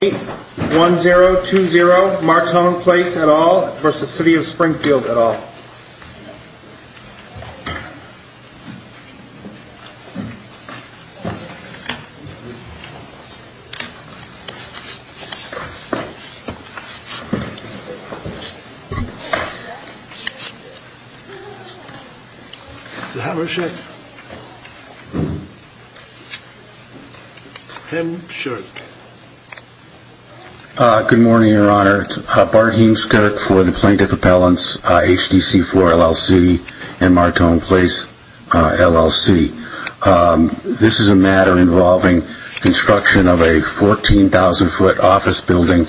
1020 Martone Place, LLC v. City of Springfield, LLC Good morning, Your Honor. Bart Heemskerk for the Plaintiff Appellants, HTC4, LLC and Martone Place, LLC. This is a matter involving construction of a 14,000-foot office building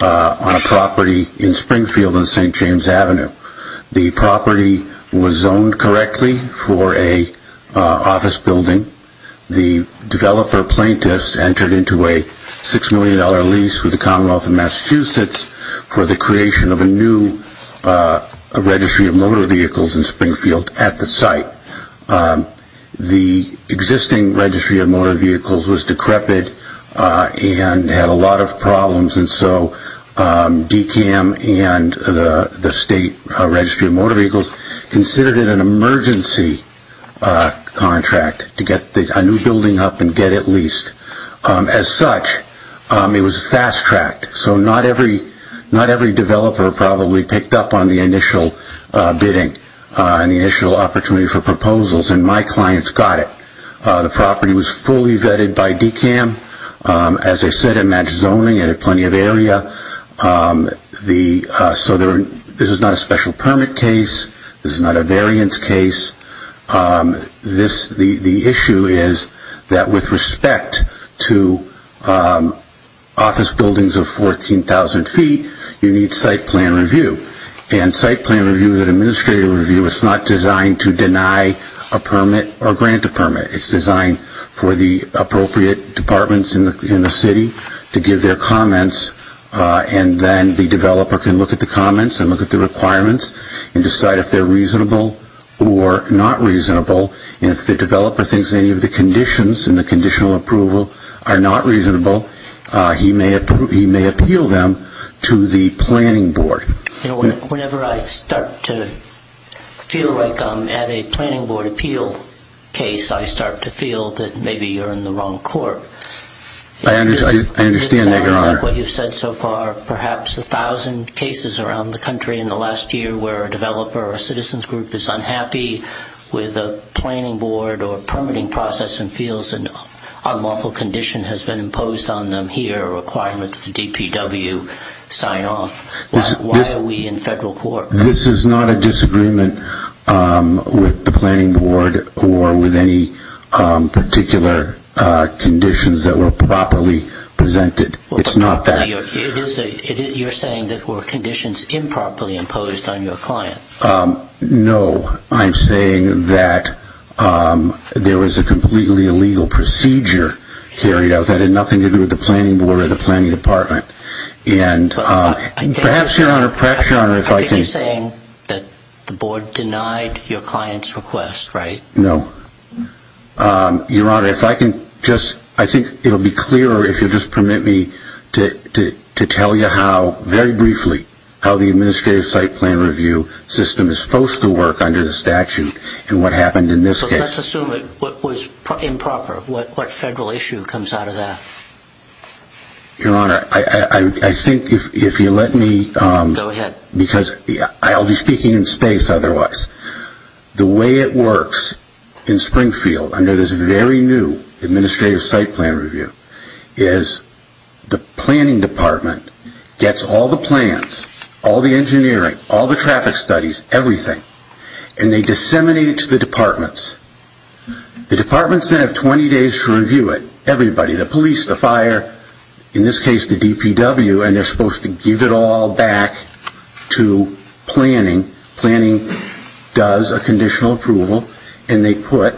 on a property in Springfield on St. James Avenue. The property was zoned correctly for an office building. The developer plaintiffs entered into a $6 million lease with the Commonwealth of Massachusetts for the creation of a new Registry of Motor Vehicles in Springfield at the site. The existing Registry of Motor Vehicles was decrepit and had a lot of problems, and so DCAM and the State Registry of Motor Vehicles considered it an emergency contract to get a new building up and get it leased. As such, it was fast-tracked, so not every developer probably picked up on the initial bidding and the initial opportunity for proposals, and my clients got it. The property was fully vetted by DCAM. As I said, it matched zoning, it had plenty of area. This is not a special permit case. This is not a variance case. The issue is that with respect to office buildings of 14,000 feet, you need site plan review, and site plan review is an administrative review. It's not designed to deny a permit or grant a permit. It's designed for the appropriate departments in the city to give their comments, and then the developer can look at the comments and look at the requirements and decide if they're reasonable or not reasonable. If the developer thinks any of the conditions in the conditional approval are not reasonable, he may appeal them to the planning board. Whenever I start to feel like I'm at a planning board appeal case, I start to feel that maybe you're in the wrong court. I understand, Your Honor. This sounds like what you've said so far. Perhaps a thousand cases around the country in the last year where a developer or a citizen's group is unhappy with a planning board or permitting process and feels an unlawful condition has been imposed on them here, a requirement that the DPW sign off. Why are we in federal court? This is not a disagreement with the planning board or with any particular conditions that were properly presented. It's not that. You're saying that were conditions improperly imposed on your client. No. I'm saying that there was a completely illegal procedure carried out that had nothing to do with the planning board or the planning department. I think you're saying that the board denied your client's request, right? No. Your Honor, if I can just, I think it will be clear if you'll just permit me to tell you how, very briefly, how the administrative site plan review system is supposed to work under the statute and what happened in this case. Let's assume it was improper. What federal issue comes out of that? Your Honor, I think if you'll let me, because I'll be speaking in space otherwise, the way it works in Springfield under this very new administrative site plan review is the planning department gets all the plans, all the engineering, all the traffic studies, everything, and they review it. The departments then have 20 days to review it. Everybody, the police, the fire, in this case the DPW, and they're supposed to give it all back to planning. Planning does a conditional approval and they put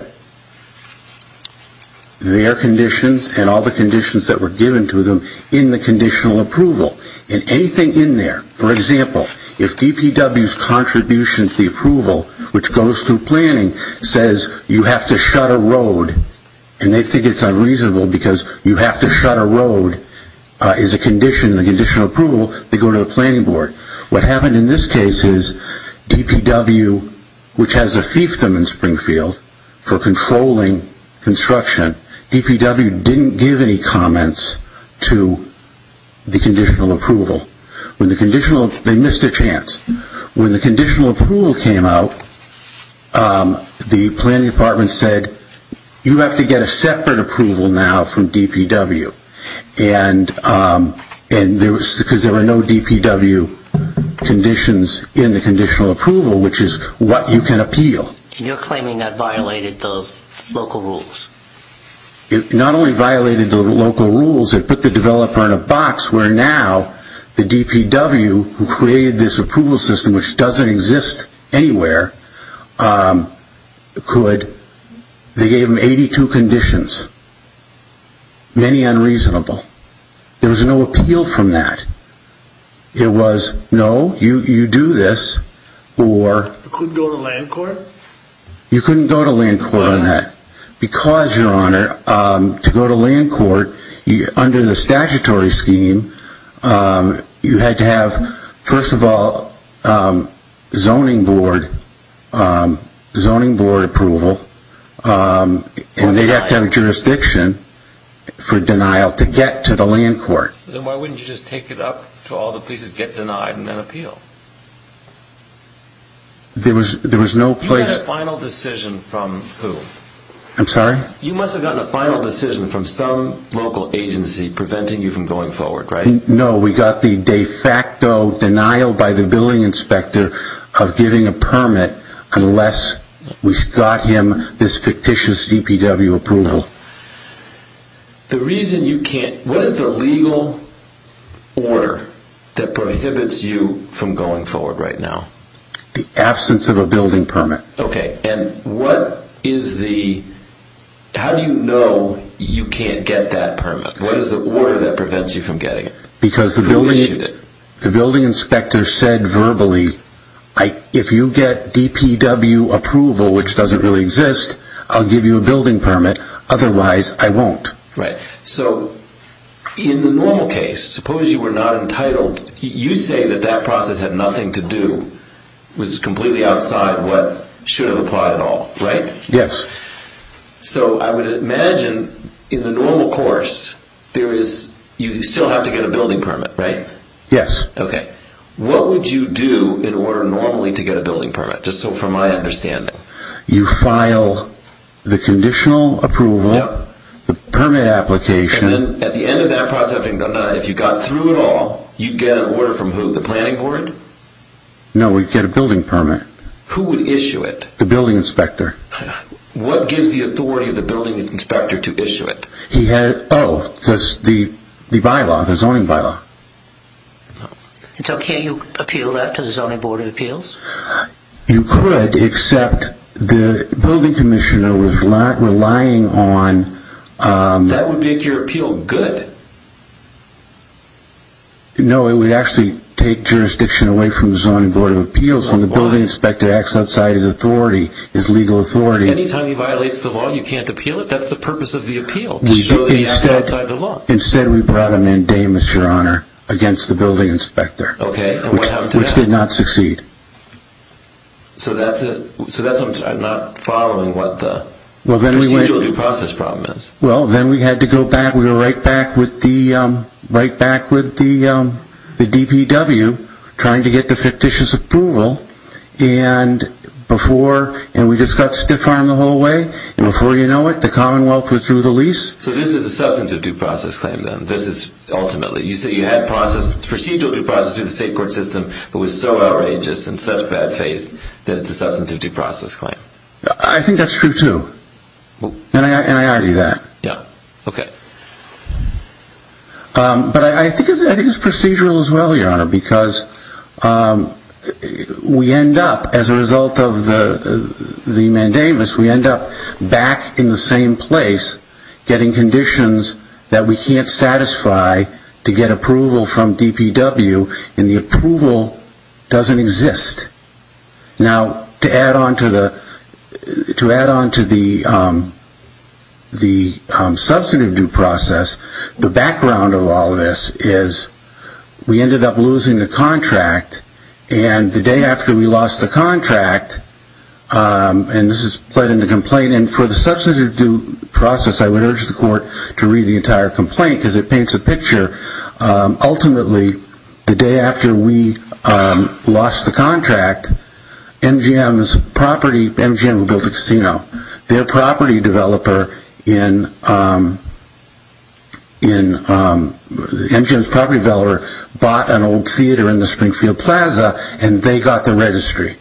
their conditions and all the conditions that were given to them in the conditional approval and anything in there, for example, if DPW's contribution to the approval, which goes through planning, says you have to shut a road, and they think it's unreasonable because you have to shut a road, is a condition, the conditional approval, they go to the planning board. What happened in this case is DPW, which has a fiefdom in Springfield for controlling construction, DPW didn't give any comments to the conditional approval. When the conditional, they missed their chance. When the conditional approval came out, the planning department said, you have to get a separate approval now from DPW, and there was, because there were no DPW conditions in the conditional approval, which is what you can appeal. And you're claiming that violated the local rules? It not only violated the local rules, it put the developer in a box where now the DPW, who created this approval system, which doesn't exist anywhere, could, they gave them 82 conditions. Many unreasonable. There was no appeal from that. It was, no, you do this, or... You couldn't go to land court? You couldn't go to land court on that. Because, your honor, to go to land court, under the statutory scheme, you had to have, first of all, zoning board approval, and they'd have to have jurisdiction for denial to get to the land court. Then why wouldn't you just take it up to all the places, get denied, and then appeal? There was no place... You had a final decision from who? I'm sorry? You must have gotten a final decision from some local agency preventing you from going forward, right? No, we got the de facto denial by the billing inspector of giving a permit, unless we got him this fictitious DPW approval. The reason you can't, what is the legal order that prohibits you from going forward? The absence of a building permit. How do you know you can't get that permit? What is the order that prevents you from getting it? Because the building inspector said verbally, if you get DPW approval, which doesn't really exist, I'll give you a building permit, otherwise I won't. In the normal case, suppose you were not entitled, you say that that process had nothing to do, was completely outside what should have applied at all, right? Yes. I would imagine in the normal course, you still have to get a building permit, right? Yes. What would you do in order normally to get a building permit, just from my understanding? You file the conditional approval, the permit application. At the end of that process, if you got through it all, you'd get an order from who, the planning board? No, we'd get a building permit. Who would issue it? The building inspector. What gives the authority of the building inspector to issue it? He has, oh, the bylaw, the zoning bylaw. It's okay you appeal that to the zoning board of appeals? You could, except the building commissioner was relying on... That would make your appeal good. No, it would actually take jurisdiction away from the zoning board of appeals. Why? When the building inspector acts outside his authority, his legal authority... Anytime he violates the law, you can't appeal it? That's the purpose of the appeal, to show that he acts outside the law. Instead, we brought him in day, Mr. Honor, against the building inspector. Okay, and what happened to that? Which did not succeed. So that's, I'm not following what the procedural due process problem is. Well, then we had to go back, we were right back with the DPW, trying to get the fictitious approval, and before, and we just got stiff-armed the whole way, and before you know it, the commonwealth withdrew the lease. So this is a substantive due process claim then? This is ultimately, you said you had procedural due process through the state court system, but was so outrageous and such bad faith that it's a substantive due process claim. I think that's true too. And I argue that. Yeah, okay. But I think it's procedural as well, Your Honor, because we end up, as a result of the mandamus, we end up back in the same place, getting conditions that we can't satisfy to get approval from DPW, and the approval doesn't exist. Now, to add on to the substantive due process, the background of all this is we ended up losing the contract, and the day after we lost the contract, and this is put in the complaint, and for the substantive due process, I would urge the court to read the entire Ultimately, the day after we lost the contract, MGM's property, MGM who built the casino, their property developer in, MGM's property developer bought an old theater in the Springfield Plaza, and they got the registry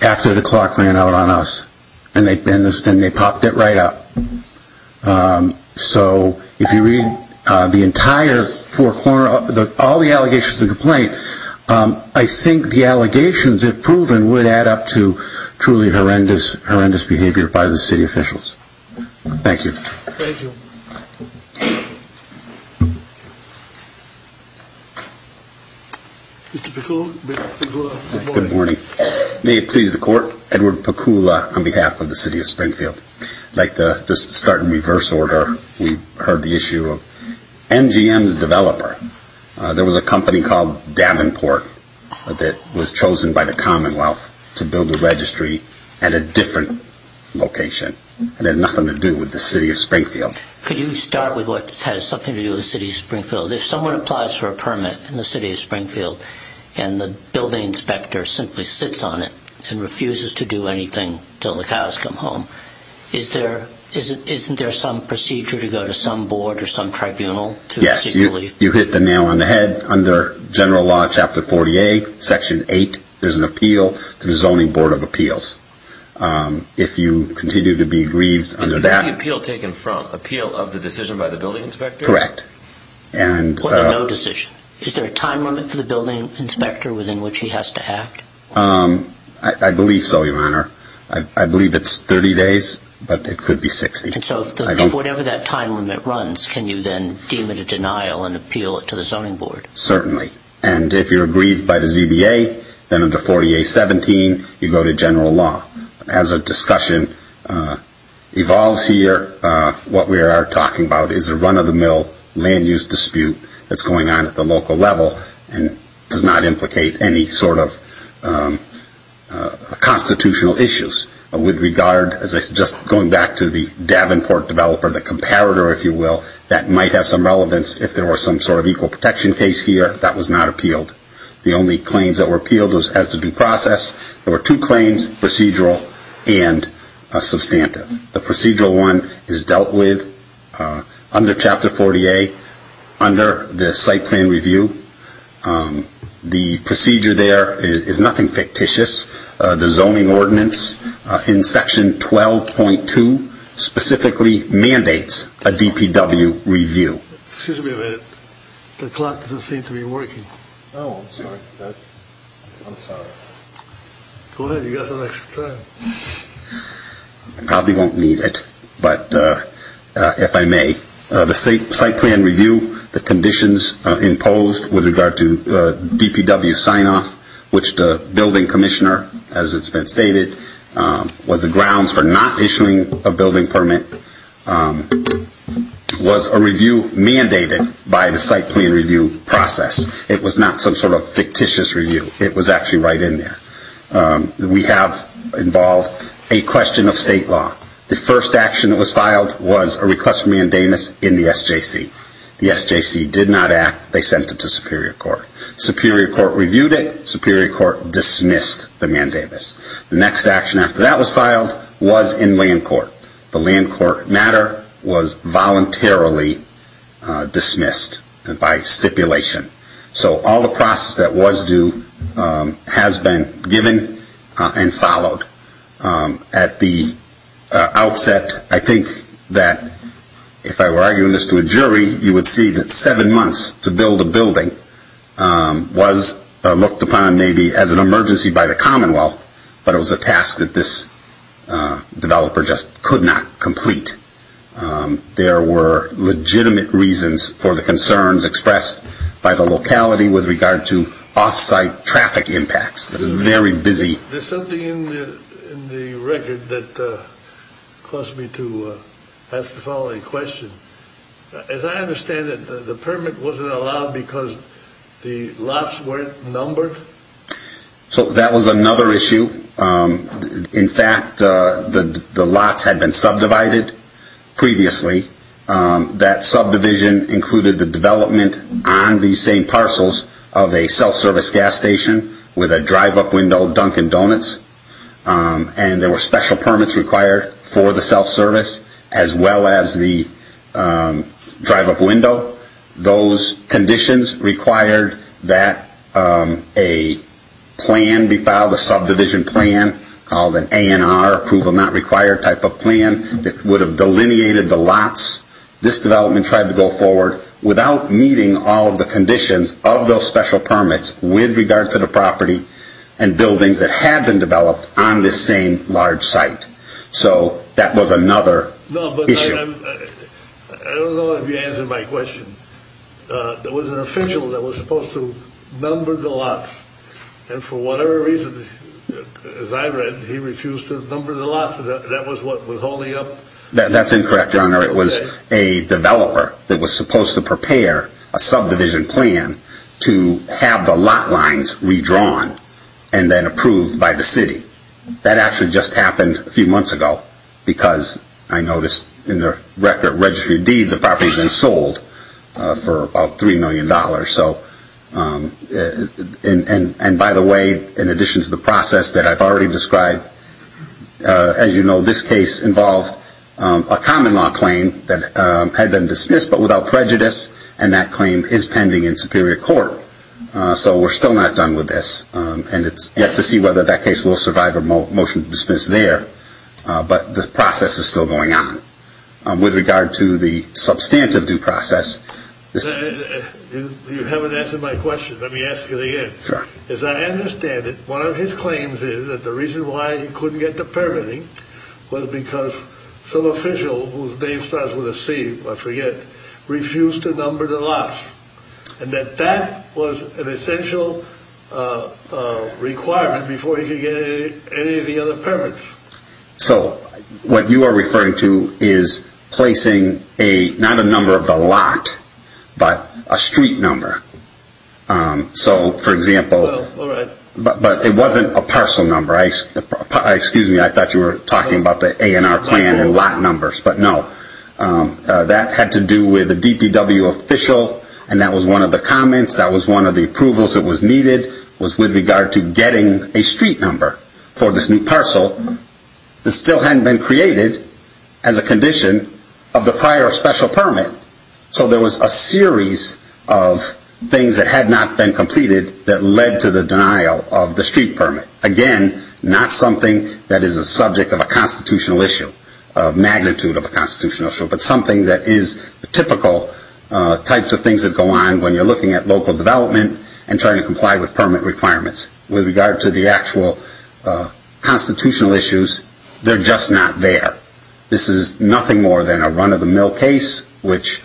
after the clock ran out on us, and they popped it right up. So, if you read the entire four corners, all the allegations in the complaint, I think the allegations, if proven, would add up to truly horrendous behavior by the city officials. Thank you. Thank you. Mr. Pakula. Good morning. May it please the court, Edward Pakula on behalf of the city of Springfield. I'd like to just start in reverse order. We heard the issue of MGM's developer. There was a company called Davenport that was chosen by the Commonwealth to build a registry at a different location. It had nothing to do with the city of Springfield. Could you start with what has something to do with the city of Springfield? If someone applies for a permit in the city of Springfield, and the building inspector simply sits on it and refuses to do anything until the cows come home, isn't there some procedure to go to some board or some tribunal to seek relief? Yes. You hit the nail on the head. Under General Law Chapter 48, Section 8, there's an appeal to the Zoning Board of Appeals. If you continue to be grieved under that... Is the appeal taken from? Appeal of the decision by the building inspector? Correct. And... Or no decision. Is there a time limit for the building inspector within which he has to act? I believe so, Your Honor. I believe it's 30 days, but it could be 60. And so if whatever that time limit runs, can you then deem it a denial and appeal it to the Zoning Board? Certainly. And if you're aggrieved by the ZBA, then under 48.17, you go to General Law. As a discussion evolves here, what we are talking about is a run-of-the-mill land use dispute that's going on at the local level and does not implicate any sort of constitutional issues. With regard, just going back to the Davenport developer, the comparator, if you will, that might have some relevance if there were some sort of equal protection case here that was not appealed. The only claims that were appealed was as to due process. There were two claims, procedural and substantive. The procedural one is dealt with under Chapter 48, under the site plan review. The procedure there is nothing fictitious. The zoning ordinance in Section 12.2 specifically mandates a DPW review. Excuse me a minute. The clock doesn't seem to be working. Oh, I'm sorry. I'm sorry. Go ahead. You've got some extra time. I probably won't need it, but if I may. The site plan review, the conditions imposed with regard to DPW sign-off, which the building commissioner, as it's been stated, was the grounds for not issuing a building permit, was a review mandated by the site plan review process. It was not some sort of fictitious review. It was actually right in there. We have involved a question of state law. The first action that was filed was a request for mandamus in the SJC. The SJC did not act. They sent it to superior court. Superior court reviewed it. Superior court dismissed the mandamus. The next action after that was filed was in land court. The land court matter was voluntarily dismissed by stipulation. So all the process that was due has been given and followed. At the outset, I think that if I were arguing this to a jury, you would see that seven months to build a building was looked upon maybe as an emergency by the Commonwealth, but it was a task that this developer just could not complete. There were legitimate reasons for the concerns expressed by the locality with regard to offsite traffic impacts. It was very busy. There's something in the record that caused me to ask the following question. As I understand it, the permit wasn't allowed because the lots weren't numbered? So that was another issue. In fact, the lots had been subdivided previously. That subdivision included the development on the same parcels of a self-service gas station with a drive-up window, Dunkin' Donuts, and there were special permits required for the self-service as well as the drive-up window. Those conditions required that a plan be filed, a subdivision plan called an ANR, approval not required type of plan, that would have delineated the lots. This development tried to go forward without meeting all of the conditions of those special permits with regard to the property and buildings that had been developed on this same large site. So that was another issue. I don't know if you answered my question. There was an official that was supposed to number the lots. And for whatever reason, as I read, he refused to number the lots. That was what was holding up? That's incorrect, Your Honor. It was a developer that was supposed to prepare a subdivision plan to have the lot lines redrawn and then approved by the city. That actually just happened a few months ago because I noticed in the record, Registry of Deeds, the property had been sold for about $3 million. And by the way, in addition to the process that I've already described, as you know, this case involved a common law claim that had been dismissed but without prejudice, and that claim is pending in superior court. So we're still not done with this. And it's yet to see whether that case will survive a motion to dismiss there. But the process is still going on. With regard to the substantive due process, You haven't answered my question. Let me ask it again. Sure. As I understand it, one of his claims is that the reason why he couldn't get the permitting was because some official, whose name starts with a C, I forget, refused to number the lots. And that that was an essential requirement before he could get any of the other permits. So what you are referring to is placing not a number of the lot, but a street number. So, for example, but it wasn't a parcel number. Excuse me, I thought you were talking about the A&R plan and lot numbers. But no, that had to do with a DPW official, and that was one of the comments, that was one of the approvals that was needed, was with regard to getting a street number for this new parcel that still hadn't been created as a condition of the prior special permit. So there was a series of things that had not been completed that led to the denial of the street permit. Again, not something that is a subject of a constitutional issue, of magnitude of a constitutional issue, but something that is the typical types of things that go on when you're looking at local development and trying to comply with permit requirements. With regard to the actual constitutional issues, they're just not there. This is nothing more than a run-of-the-mill case, which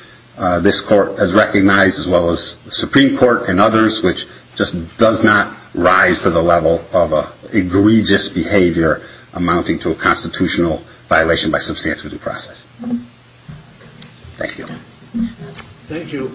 this court has recognized, as well as the Supreme Court and others, which just does not rise to the level of egregious behavior amounting to a constitutional violation by substantive due process. Thank you. Thank you.